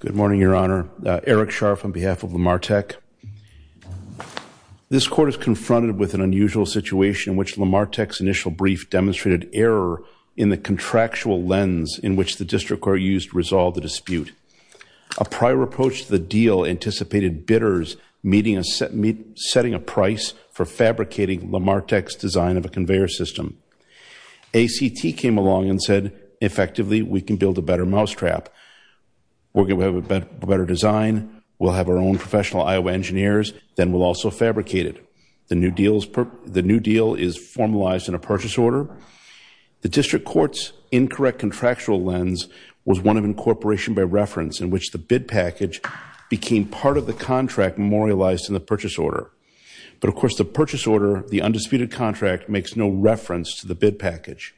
Good morning, Your Honor. Eric Scharf on behalf of Lemartec. This court is confronted with an unusual situation in which Lemartec's initial brief demonstrated error in the contractual lens in which the district court used to resolve the dispute. A prior approach to the deal anticipated bidders setting a price for fabricating Lemartec's design of a conveyor system. ACT came along and said, effectively, we can build a better mousetrap. We'll have a better design. We'll have our own professional Iowa engineers. Then we'll also fabricate it. The new deal is formalized in a purchase order. The district court's incorrect contractual lens was one of incorporation by reference in which the bid package became part of the contract memorialized in the purchase order. But of course, the purchase order, the undisputed contract, makes no reference to the bid package.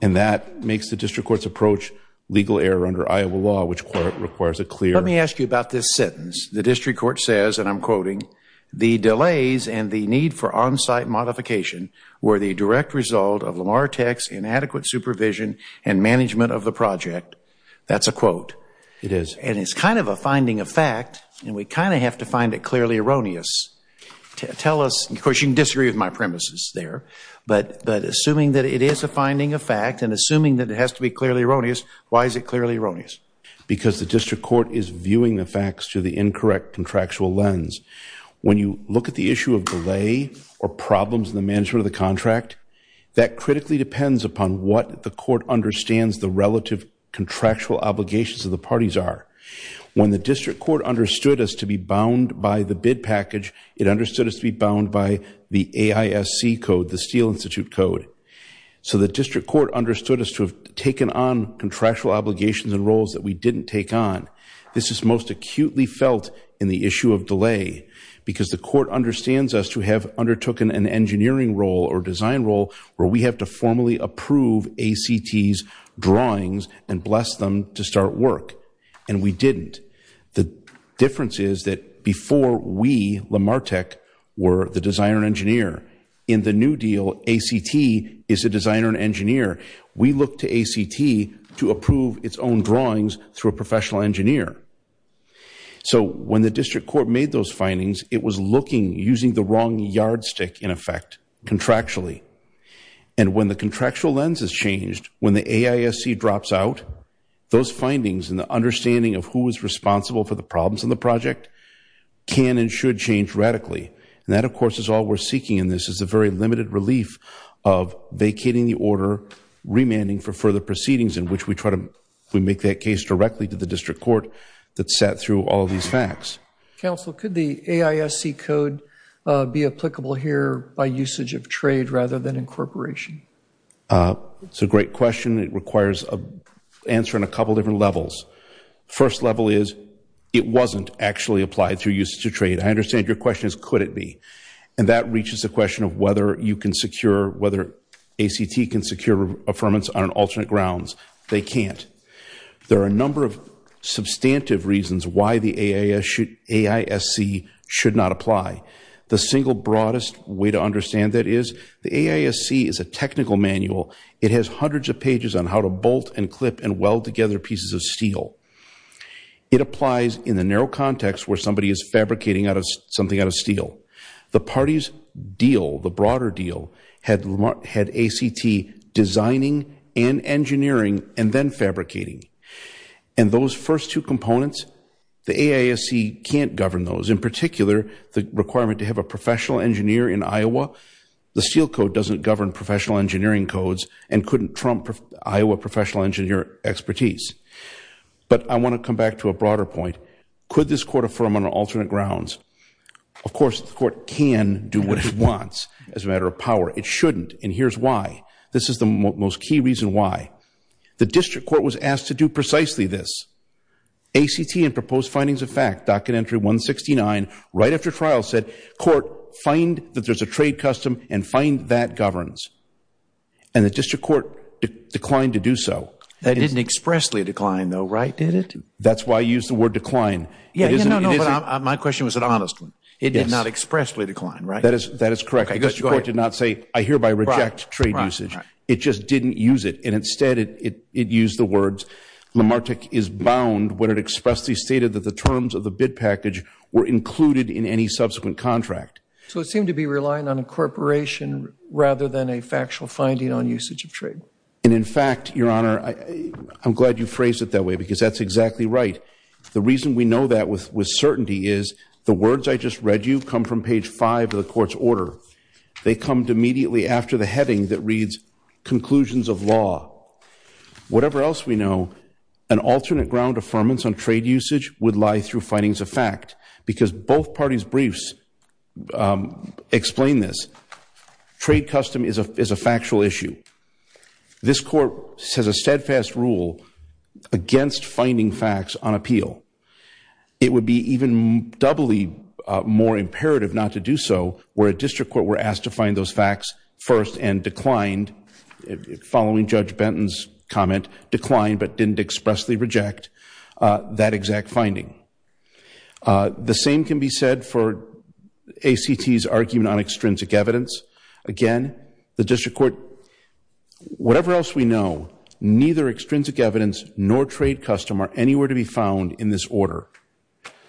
And that makes the district court's approach legal error under Iowa law, which requires a clear... Let me ask you about this sentence. The district court says, and I'm quoting, the delays and the need for on-site modification were the direct result of Lemartec's inadequate supervision and management of the project. That's a quote. It is. And it's kind of a finding of fact, and we kind of have to find it clearly erroneous to tell us... Of course, you can disagree with my premises there, but assuming that it is a finding of fact and assuming that it has to be clearly erroneous, why is it clearly erroneous? Because the district court is viewing the facts through the incorrect contractual lens. When you look at the issue of delay or problems in the management of the contract, that critically depends upon what the court understands the relative contractual obligations of the parties are. When the district court understood as to be bound by the bid package, it understood as to be bound by the AISC code, the Steele Institute code. So the district court understood as to have taken on contractual obligations and roles that we didn't take on. This is most acutely felt in the issue of delay, because the court understands as to have undertook an engineering role or design role where we have to formally approve ACT's drawings and bless them to start work. And we didn't. The difference is that before we, LamarTech, were the designer and engineer. In the new deal, ACT is a designer and engineer. We look to ACT to approve its own drawings through a professional engineer. So when the district court made those findings, it was looking, using the wrong yardstick in effect, contractually. And when the contractual lens has changed, when the AISC drops out, those findings and the understanding of who is responsible for the problems in the project can and should change radically. And that, of course, is all we're seeking in this, is a very limited relief of vacating the order, remanding for further proceedings in which we try to make that case directly to the district court that sat through all these facts. Counsel, could the AISC code be applicable here by usage of trade rather than incorporation? It's a great question. It requires an answer in a couple different levels. First level is it wasn't actually applied through usage of trade. I understand your question is could it be? And that reaches the question of whether you can secure, whether ACT can secure affirmance on alternate grounds. They can't. There are a number of substantive reasons why the AISC should not apply. The single broadest way to understand that is the AISC is a technical manual. It has hundreds of pages on how to bolt and clip and weld together pieces of steel. It applies in the narrow context where somebody is fabricating something out of steel. The party's deal, the broader deal, had ACT designing and engineering and then fabricating. And those first two components, the AISC can't govern those. In particular, the requirement to have a professional engineer in Iowa. The steel code doesn't govern professional engineering codes and couldn't trump Iowa professional engineer expertise. But I want to come back to a broader point. Could this court affirm on alternate grounds? Of course, the court can do what it wants as a matter of power. It shouldn't. And here's why. This is the most key reason why. The district court was asked to do precisely this. ACT and proposed findings of fact, docket entry 169, right after trial said, court, find that there's a trade custom and find that governs. And the district court declined to do so. That didn't expressly decline though, right? Did it? That's why I used the word decline. Yeah, no, no, no. My question was an honest one. It did not expressly decline, right? That is correct. The district court did not say, I hereby reject trade usage. It just didn't use it. And instead it, it, it used the words Lamarck is bound when it expressly stated that the terms of the bid package were included in any subsequent contract. So it seemed to be relying on a corporation rather than a factual finding on usage of trade. And in fact, your honor, I'm glad you phrased it that way because that's exactly right. The reason we know that with, with certainty is the words I just read you come from page five of the court's order. They come to immediately after the heading that reads conclusions of law, whatever else we know, an alternate ground affirmance on trade usage would lie through findings of fact because both parties briefs explain this trade custom is a, is a factual issue. This court says a steadfast rule against finding facts on appeal. It would be even doubly more imperative not to do so where a district court were asked to find those facts first and declined following judge Benton's comment, declined, but didn't expressly reject that exact finding. The same can be said for ACT's argument on extrinsic evidence. Again, the district court, whatever else we know, neither extrinsic evidence nor trade custom are anywhere to be found in this order.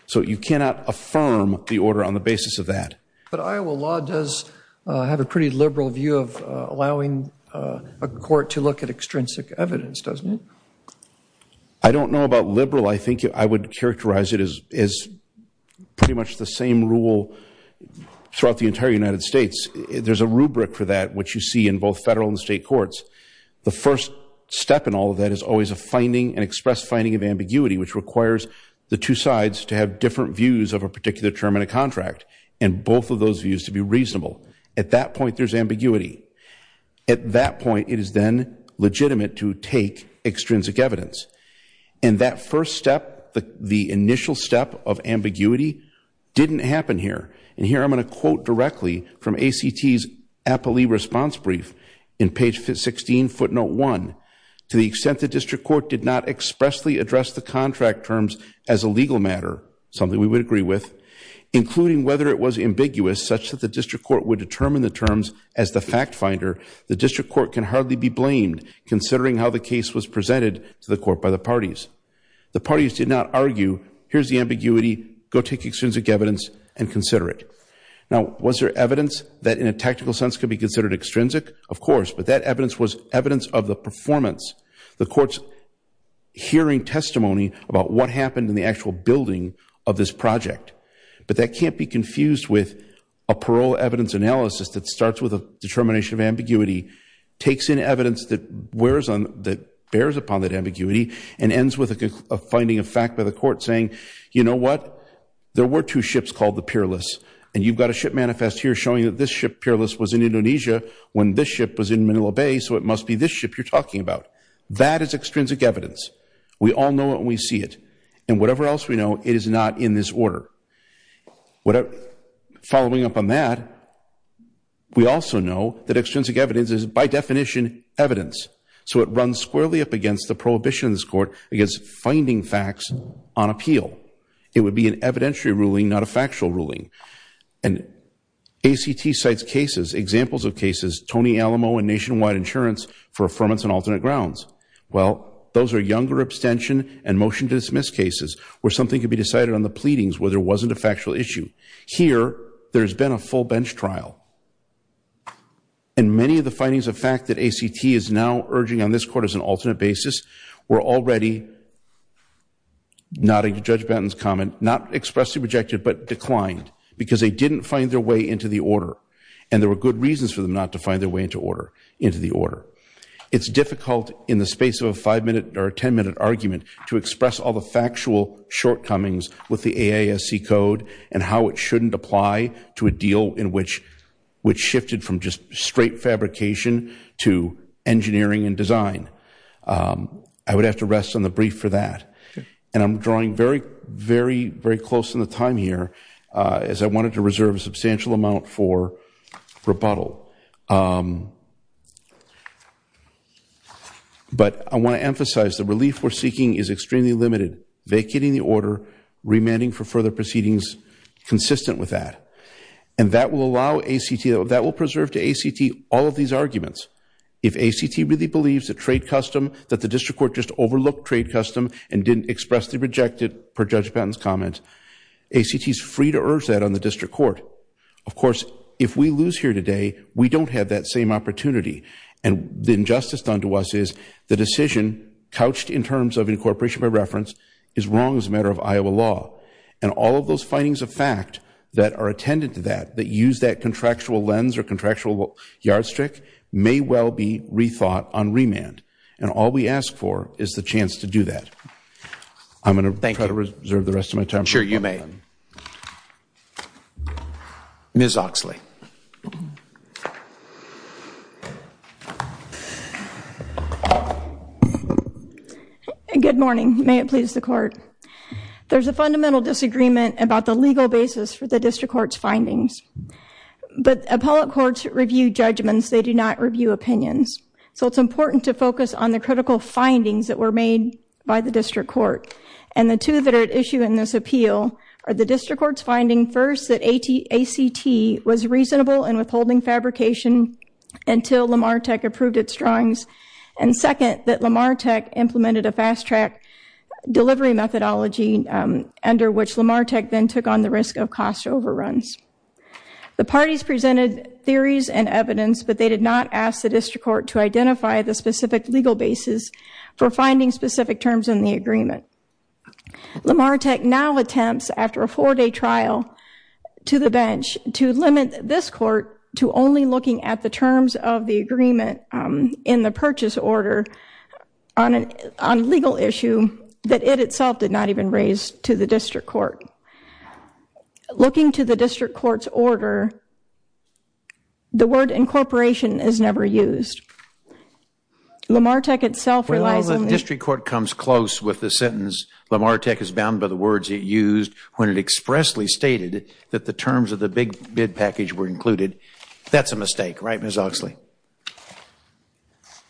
So you cannot affirm the order on the basis of that. But Iowa law does have a pretty liberal view of allowing a court to look at extrinsic evidence, doesn't it? I don't know about liberal. I think I would characterize it as, as pretty much the same rule throughout the entire United States. There's a rubric for that, which you see in both federal and state courts. The first step in all of that is always a finding, an express finding of ambiguity, which requires the two sides to have different views of a particular term in a contract and both of those views to be reasonable. At that point, there's ambiguity. At that point, it is then legitimate to take extrinsic evidence. And that first step, the initial step of ambiguity didn't happen here. And here I'm going to quote directly from ACT's appellee response brief in page 16, footnote one, to the extent the district court did not expressly address the contract terms as a legal matter, something we would agree with, including whether it was ambiguous such that the district court would determine the terms as the fact finder, the district court can hardly be blamed considering how the case was presented to the court by the parties. The parties did not argue, here's the ambiguity, go take extrinsic evidence and consider it. Now, was there evidence that in a tactical sense could be considered extrinsic? Of course, but that evidence was evidence of the performance, the court's hearing testimony about what happened in the actual building of this project. But that can't be confused with a parole evidence analysis that starts with a determination of ambiguity, takes in evidence that bears upon that ambiguity and ends with a finding of fact by the court saying, you know what? There were two ships called the Peerless. And you've got a ship manifest here showing that this ship, Peerless, was in Indonesia when this ship was in Manila Bay. So it must be this ship you're talking about. That is extrinsic evidence. We all know it when we see it. And whatever else we know, it is not in this order. Following up on that, we also know that extrinsic evidence is by definition evidence. So it runs squarely up against the prohibition of this court against finding facts on appeal. It would be an evidentiary ruling, not a factual ruling. And ACT cites cases, examples of cases, Tony Alamo and Nationwide Insurance for affirmance on alternate grounds. Well, those are younger abstention and motion to dismiss cases where something could be decided on the pleadings where there wasn't a factual issue. Here, there's been a full bench trial. And many of the findings of fact that ACT is now urging on this court as an alternate because they didn't find their way into the order. And there were good reasons for them not to find their way into the order. It's difficult in the space of a five-minute or a 10-minute argument to express all the factual shortcomings with the AASC code and how it shouldn't apply to a deal which shifted from just straight fabrication to engineering and design. I would have to rest on the brief for that. And I'm drawing very, very, very close in the time here as I wanted to reserve a substantial amount for rebuttal. But I want to emphasize the relief we're seeking is extremely limited, vacating the order, remanding for further proceedings consistent with that. And that will allow ACT, that will preserve to ACT all of these arguments. If ACT really believes that trade custom, that the district court just overlooked trade custom and didn't expressly reject it per Judge Patton's comment, ACT is free to urge that on the district court. Of course, if we lose here today, we don't have that same opportunity. And the injustice done to us is the decision couched in terms of incorporation by reference is wrong as a matter of Iowa law. And all of those findings of fact that are attendant to that, that use that contractual And all we ask for is the chance to do that. I'm going to try to reserve the rest of my time. Sure, you may. Ms. Oxley. Good morning. May it please the court. There's a fundamental disagreement about the legal basis for the district court's findings. But appellate courts review judgments, they do not review opinions. So it's important to focus on the critical findings that were made by the district court. And the two that are at issue in this appeal are the district court's finding, first, that ACT was reasonable in withholding fabrication until Lamar Tech approved its drawings. And second, that Lamar Tech implemented a fast track delivery methodology, under which Lamar Tech then took on the risk of cost overruns. The parties presented theories and evidence, but they did not ask the district court to identify the specific legal basis for finding specific terms in the agreement. Lamar Tech now attempts, after a four-day trial to the bench, to limit this court to only looking at the terms of the agreement in the purchase order on a legal issue that it itself did not even raise to the district court. So, looking to the district court's order, the word incorporation is never used. Lamar Tech itself relies on the... Well, the district court comes close with the sentence, Lamar Tech is bound by the words it used when it expressly stated that the terms of the big bid package were included. That's a mistake, right, Ms. Oxley?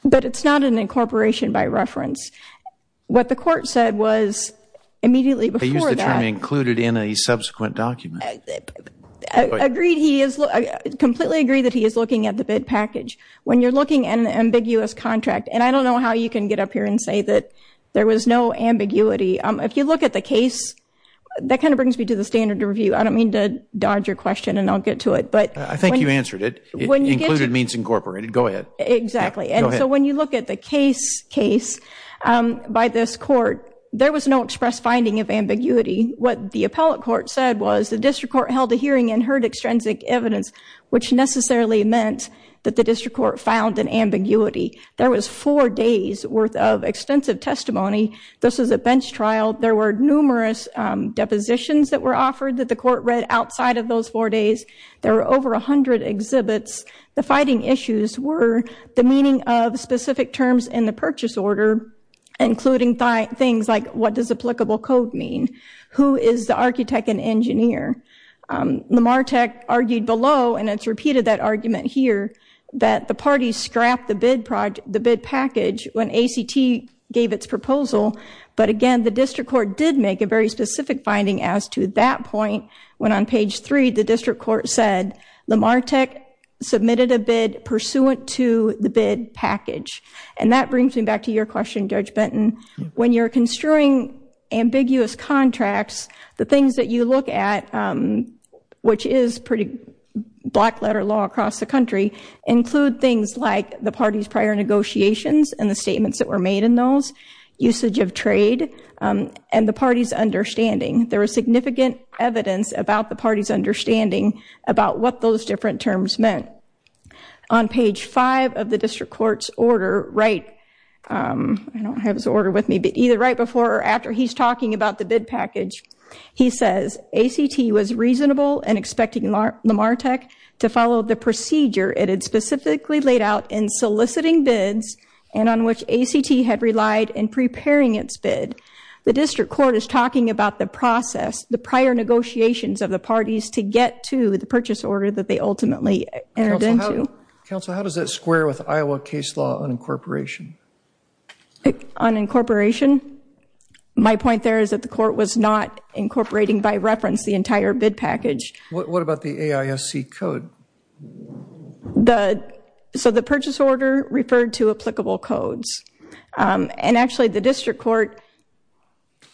But it's not an incorporation by reference. What the court said was, immediately before that... Included in a subsequent document. Completely agree that he is looking at the bid package. When you're looking at an ambiguous contract, and I don't know how you can get up here and say that there was no ambiguity. If you look at the case, that kind of brings me to the standard review. I don't mean to dodge your question and I'll get to it, but... I think you answered it. Included means incorporated. Go ahead. Exactly. And so, when you look at the case by this court, there was no express finding of ambiguity. What the appellate court said was, the district court held a hearing and heard extrinsic evidence, which necessarily meant that the district court found an ambiguity. There was four days worth of extensive testimony. This is a bench trial. There were numerous depositions that were offered that the court read outside of those four days. There were over 100 exhibits. The fighting issues were the meaning of specific terms in the purchase order, including things like, what does applicable code mean? Who is the architect and engineer? Lamarteck argued below, and it's repeated that argument here, that the parties scrapped the bid package when ACT gave its proposal. But again, the district court did make a very specific finding as to that point, when on page three, the district court said, Lamarteck submitted a bid pursuant to the bid package. And that brings me back to your question, Judge Benton. When you're construing ambiguous contracts, the things that you look at, which is pretty black-letter law across the country, include things like the party's prior negotiations and the statements that were made in those, usage of trade, and the party's understanding. There was significant evidence about the party's understanding about what those different terms meant. On page five of the district court's order, right, I don't have his order with me, but either right before or after he's talking about the bid package, he says, ACT was reasonable in expecting Lamarteck to follow the procedure it had specifically laid out in soliciting bids and on which ACT had relied in preparing its bid. The district court is talking about the process, the prior negotiations of the parties to get to the purchase order that they ultimately entered into. Counsel, how does that square with Iowa case law unincorporation? Unincorporation? My point there is that the court was not incorporating by reference the entire bid package. What about the AISC code? So the purchase order referred to applicable codes. And actually, the district court,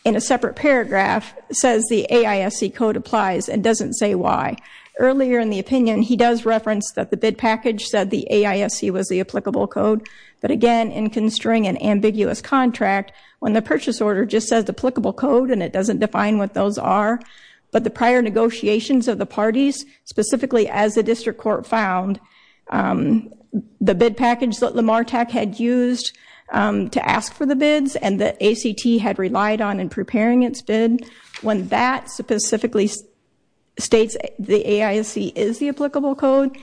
in a separate paragraph, says the AISC code applies and doesn't say why. Earlier in the opinion, he does reference that the bid package said the AISC was the applicable code. But again, in construing an ambiguous contract, when the purchase order just says applicable code and it doesn't define what those are, but the prior negotiations of the parties, specifically as the district court found, the bid package that Lamarteck had used to ask for the bids and that ACT had relied on in preparing its bid, when that specifically states the AISC is the applicable code,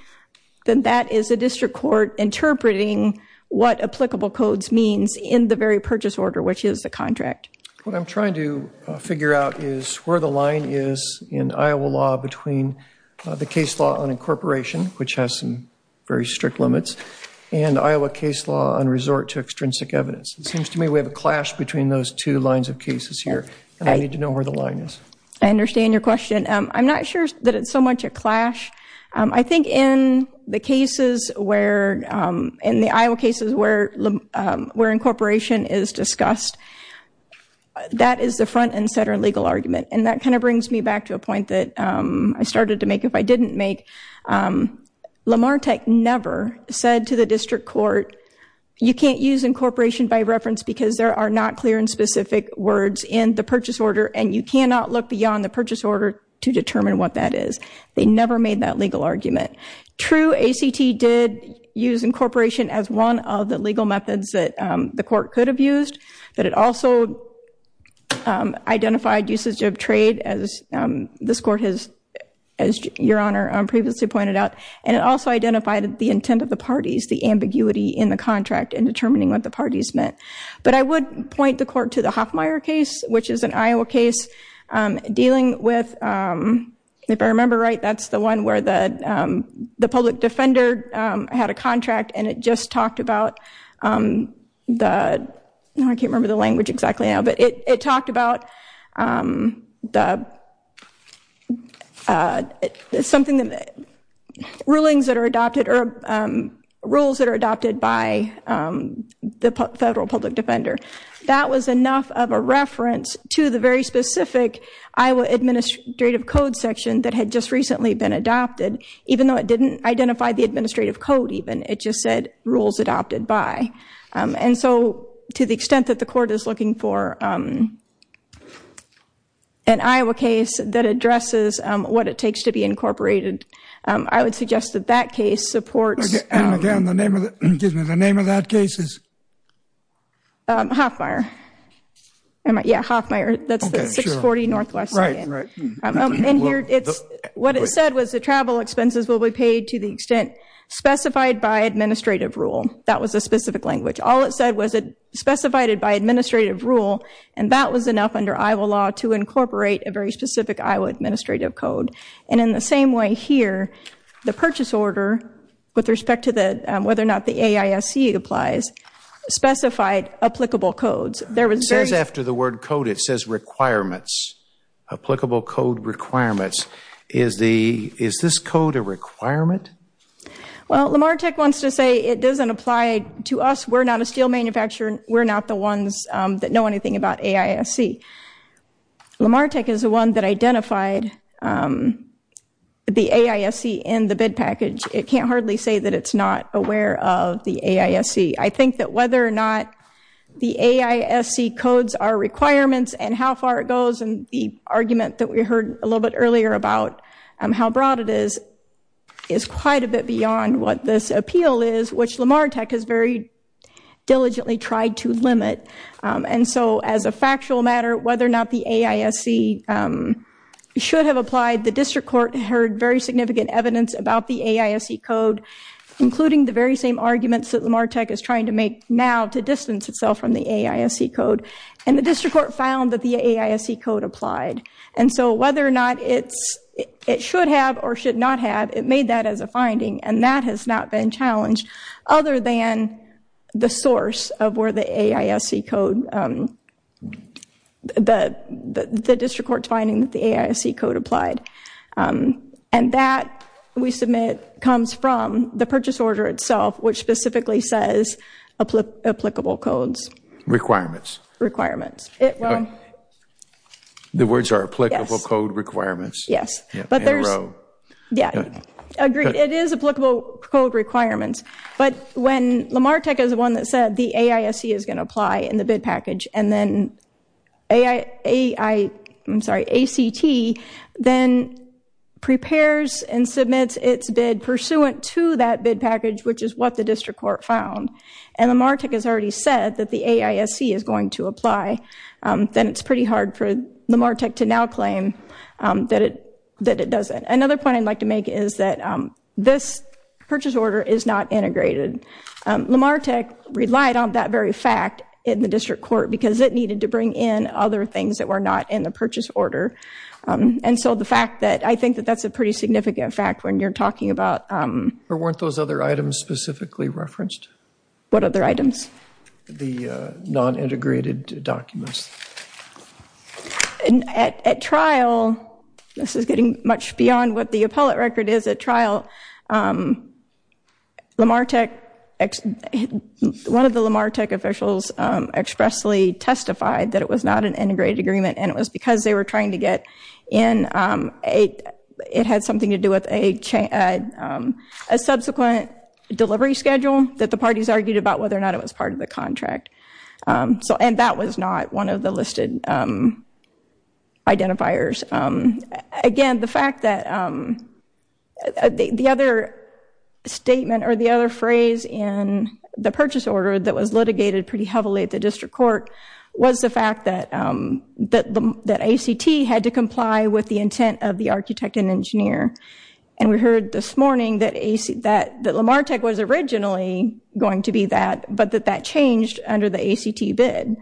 then that is a district court interpreting what applicable codes means in the very purchase order, which is the contract. What I'm trying to figure out is where the line is in Iowa law between the case law unincorporation, which has some very strict limits, and Iowa case law on resort to extrinsic evidence. It seems to me we have a clash between those two lines of cases here. I need to know where the line is. I understand your question. I'm not sure that it's so much a clash. I think in the Iowa cases where incorporation is discussed, that is the front and center legal argument. And that kind of brings me back to a point that I started to make if I didn't make. Lamarteck never said to the district court, you can't use incorporation by reference because there are not clear and specific words in the purchase order, and you cannot look beyond the purchase order to determine what that is. They never made that legal argument. True, ACT did use incorporation as one of the legal methods that the court could have used, but it also identified usage of trade, as this court has, as your honor previously pointed out, and it also identified the intent of the parties, the ambiguity in the contract in determining what the parties meant. I would point the court to the Hoffmeyer case, which is an Iowa case dealing with, if I remember right, that's the one where the public defender had a contract and it just talked about, I can't remember the language exactly now, but it talked about something, the rulings that are adopted or rules that are adopted by the federal public defender. That was enough of a reference to the very specific Iowa administrative code section that had just recently been adopted, even though it didn't identify the administrative code even, it just said rules adopted by, and so to the extent that the court is looking for an Iowa case that addresses what it takes to be incorporated, I would suggest that that case supports... Again, the name of that case is? Hoffmeyer. Yeah, Hoffmeyer. That's the 640 Northwest. Right, right. What it said was the travel expenses will be paid to the extent specified by administrative rule. That was a specific language. All it said was it specified it by administrative rule and that was enough under Iowa law to incorporate a very specific Iowa administrative code. And in the same way here, the purchase order, with respect to whether or not the AISC applies, specified applicable codes. It says after the word code, it says requirements. Applicable code requirements. Is this code a requirement? Well, LamarTech wants to say it doesn't apply to us. We're not a steel manufacturer. We're not the ones that know anything about AISC. LamarTech is the one that identified the AISC in the bid package. It can't hardly say that it's not aware of the AISC. I think that whether or not the AISC codes our requirements and how far it goes and the argument that we heard a little bit earlier about how broad it is, is quite a bit beyond what this appeal is, which LamarTech has very diligently tried to limit. And so as a factual matter, whether or not the AISC should have applied, the district court heard very significant evidence about the AISC code, including the very same arguments that LamarTech is trying to make now to distance itself from the AISC code. And the district court found that the AISC code applied. And so whether or not it should have or should not have, it made that as a finding. And that has not been challenged, other than the source of where the AISC code, the district court's finding that the AISC code applied. And that, we submit, comes from the purchase order itself, which specifically says applicable codes. Requirements. Requirements. The words are applicable code requirements. Yes. Yeah, agreed. It is applicable code requirements. But when LamarTech is the one that said the AISC is going to apply in the bid package, and then ACT then prepares and submits its bid pursuant to that bid package, which is what the district court found, and LamarTech has already said that the AISC is going to apply, then it's pretty hard for LamarTech to now claim that it doesn't. Another point I'd like to make is that this purchase order is not integrated. LamarTech relied on that very fact in the district court, because it needed to bring in other things that were not in the purchase order. And so the fact that, I think that that's a pretty significant fact when you're talking about... Or weren't those other items specifically referenced? What other items? The non-integrated documents. At trial, this is getting much beyond what the appellate record is at trial, but one of the LamarTech officials expressly testified that it was not an integrated agreement, and it was because they were trying to get in... It had something to do with a subsequent delivery schedule that the parties argued about whether or not it was part of the contract. And that was not one of the listed identifiers. Again, the fact that the other statement or the other phrase in the purchase order that was litigated pretty heavily at the district court was the fact that ACT had to comply with the intent of the architect and engineer. And we heard this morning that LamarTech was originally going to be that, but that that changed under the ACT bid.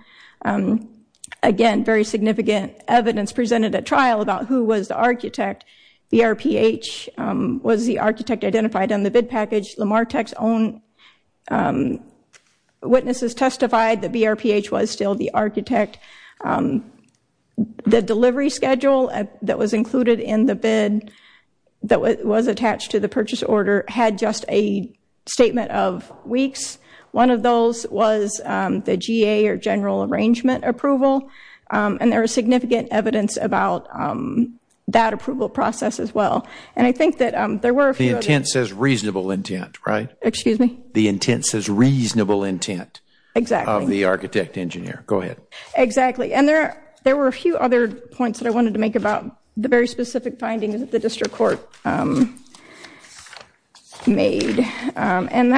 Again, very significant evidence presented at trial about who was the architect. BRPH was the architect identified on the bid package. LamarTech's own witnesses testified that BRPH was still the architect. The delivery schedule that was included in the bid had just a statement of weeks. One of those was the GA or general arrangement approval, and there was significant evidence about that approval process as well. And I think that there were a few... The intent says reasonable intent, right? Excuse me? The intent says reasonable intent... Exactly. ...of the architect engineer. Go ahead. Exactly. And there were a few other points that I wanted to make about the very specific findings that the district court made. And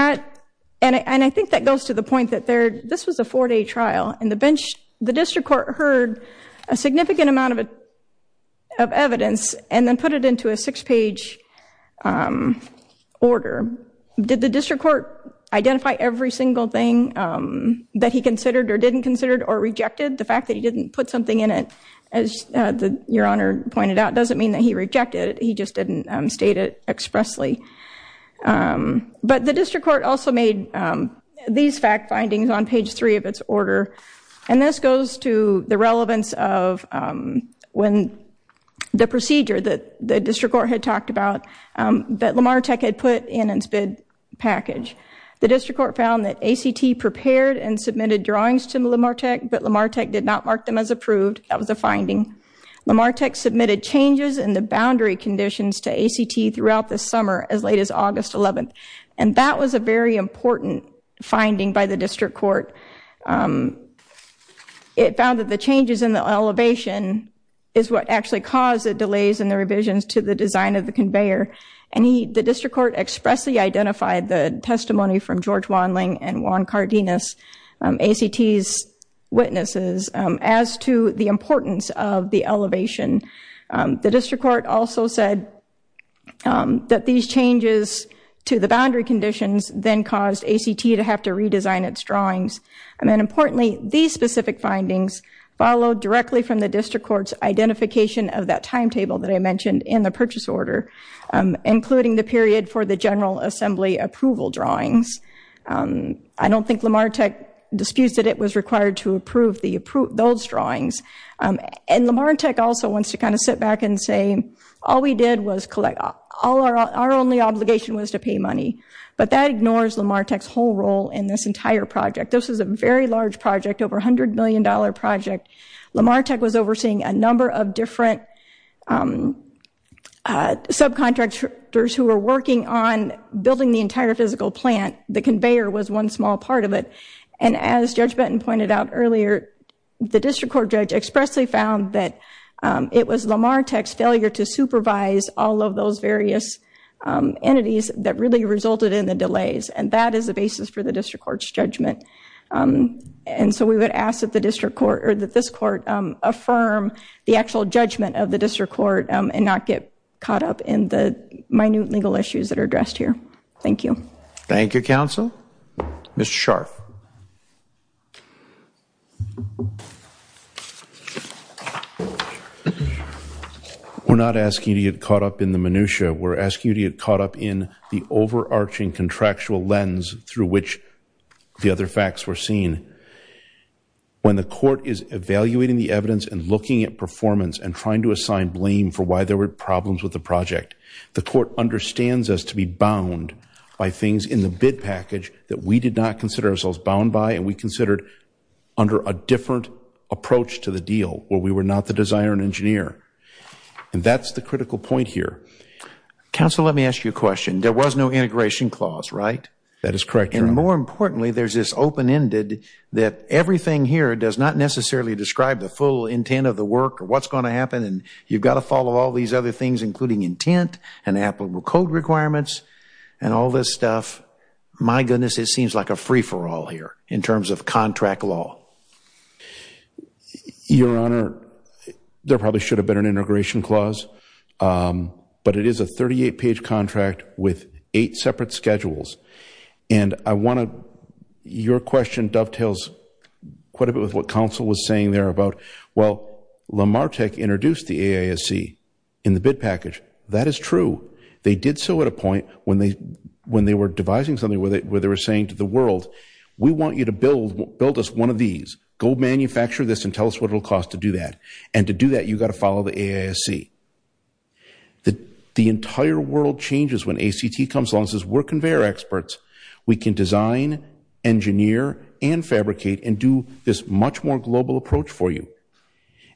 I think that goes to the point that this was a four-day trial, and the district court heard a significant amount of evidence and then put it into a six-page order. Did the district court identify every single thing that he considered or didn't consider or rejected? The fact that he didn't put something in it, as Your Honor pointed out, doesn't mean that he rejected it. He just didn't state it expressly. But the district court also made these fact findings on page three of its order. And this goes to the relevance of when the procedure that the district court had talked about that LamarTech had put in its bid package. The district court found that ACT prepared and submitted drawings to LamarTech, but LamarTech did not mark them as approved. That was the finding. LamarTech submitted changes in the boundary conditions to ACT throughout the summer as late as August 11th. And that was a very important finding by the district court. It found that the changes in the elevation is what actually caused the delays in the revisions to the design of the conveyor. And the district court expressly identified the testimony from George Wanling and Juan Cardenas, ACT's witnesses, as to the importance of the elevation. The district court also said that these changes to the boundary conditions then caused ACT to have to redesign its drawings. And then importantly, these specific findings followed directly from the district court's identification of that timetable that I mentioned in the purchase order, including the period for the general assembly approval drawings. I don't think LamarTech disputes that it was required to approve those drawings. And LamarTech also wants to kind of sit back and say, all we did was collect, our only obligation was to pay money. But that ignores LamarTech's whole role in this entire project. This is a very large project, over $100 million project. LamarTech was overseeing a number of different subcontractors who were working on building the entire physical plant. The conveyor was one small part of it. And as Judge Benton pointed out earlier, the district court judge expressly found that it was LamarTech's failure to supervise all of those various entities that really resulted in the delays. And that is the basis for the district court's judgment. And so we would ask that the district court, or that this court affirm the actual judgment of the district court and not get caught up in the minute legal issues that are addressed here. Thank you. Thank you, counsel. Mr. Scharf. We're not asking you to get caught up in the minutiae, we're asking you to get caught up in the overarching contractual lens through which the other facts were seen. When the court is evaluating the evidence and looking at performance and trying to assign blame for why there were problems with the project, the court understands us to be bound by things in the bid package that we did not consider ourselves bound by and we considered under a different approach to the deal, where we were not the designer and engineer. And that's the critical point here. Counsel, let me ask you a question. There was no integration clause, right? That is correct, your honor. And more importantly, there's this open-ended that everything here does not necessarily describe the full intent of the work or what's going to happen. And you've got to follow all these other things, including intent and applicable code requirements and all this stuff. My goodness, it seems like a free-for-all here in terms of contract law. Your honor, there probably should have been an integration clause, but it is a 38-page contract with eight separate schedules. And I want to, your question dovetails quite a bit with what counsel was saying there about, well, LamarTech introduced the AISC in the bid package. That is true. They did so at a point when they were devising something, we want you to build us one of these, go manufacture this and tell us what it'll cost to do that. And to do that, you've got to follow the AISC. The entire world changes when ACT comes along and says we're conveyor experts. We can design, engineer, and fabricate, and do this much more global approach for you.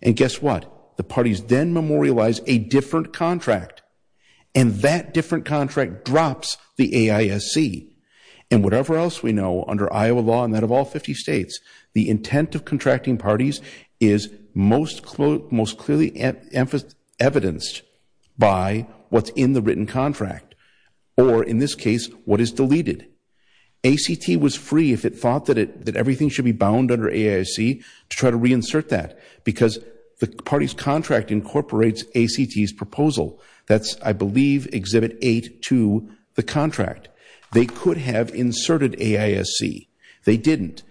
And guess what? The parties then memorialize a different contract and that different contract drops the AISC. And whatever else we know under Iowa law and that of all 50 states, the intent of contracting parties is most clearly evidenced by what's in the written contract, or in this case, what is deleted. ACT was free if it thought that everything should be bound under AISC to try to reinsert that because the party's contract incorporates ACT's proposal. That's, I believe, exhibit eight to the contract. They could have inserted AISC. They didn't.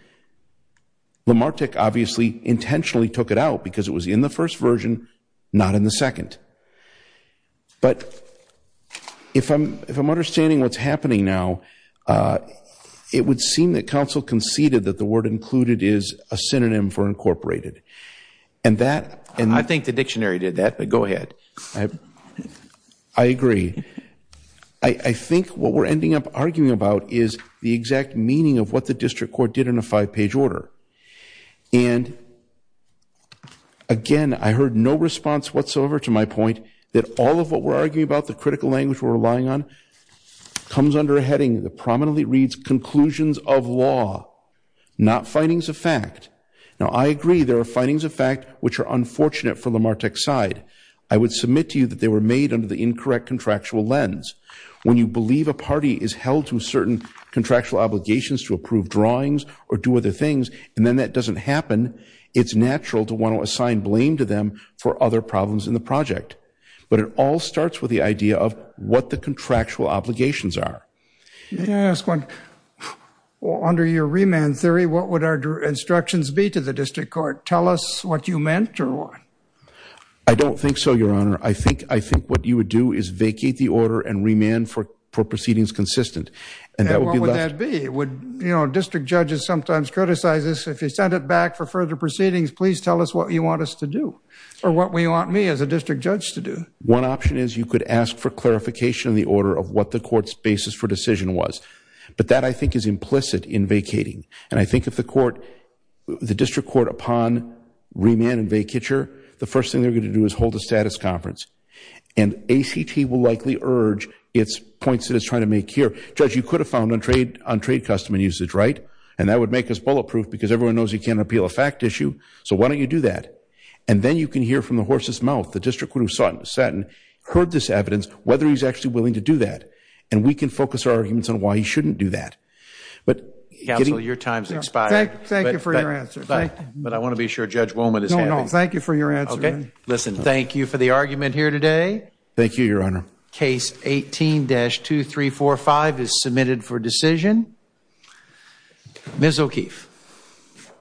Lamarck obviously intentionally took it out because it was in the first version, not in the second. But if I'm understanding what's happening now, it would seem that counsel conceded that the word included is a synonym for incorporated. And that- I think the dictionary did that, but go ahead. I agree. I think what we're ending up arguing about is the exact meaning of what the district court did in a five-page order. And again, I heard no response whatsoever to my point that all of what we're arguing about, the critical language we're relying on, comes under a heading that prominently reads conclusions of law, not findings of fact. Now, I agree there are findings of fact which are unfortunate for Lamarck's side. I would submit to you that they were made under the incorrect contractual lens. When you believe a party is held to certain contractual obligations to approve drawings or do other things, and then that doesn't happen, it's natural to want to assign blame to them for other problems in the project. But it all starts with the idea of what the contractual obligations are. May I ask one? Under your remand theory, what would our instructions be to the district court? Tell us what you meant or what? I don't think so, Your Honor. I think what you would do is vacate the order and remand for proceedings consistent. And what would that be? District judges sometimes criticize this. If you send it back for further proceedings, please tell us what you want us to do or what we want me as a district judge to do. One option is you could ask for clarification in the order of what the court's basis for decision was. But that, I think, is implicit in vacating. And I think if the court, the district court, upon remand and vacature, the first thing they're going to do is hold a status conference. And ACT will likely urge its points that it's trying to make here. Judge, you could have found on trade customer usage, right? And that would make us bulletproof because everyone knows you can't appeal a fact issue. So why don't you do that? And then you can hear from the horse's mouth, the district court who sat and heard this evidence, whether he's actually willing to do that. And we can focus our arguments on why he shouldn't do that. But getting- Counsel, your time's expired. Thank you for your answer. But I want to be sure Judge Woman is happy. No, no, thank you for your answer. Listen, thank you for the argument here today. Thank you, Your Honor. Case 18-2345 is submitted for decision. Ms. O'Keefe.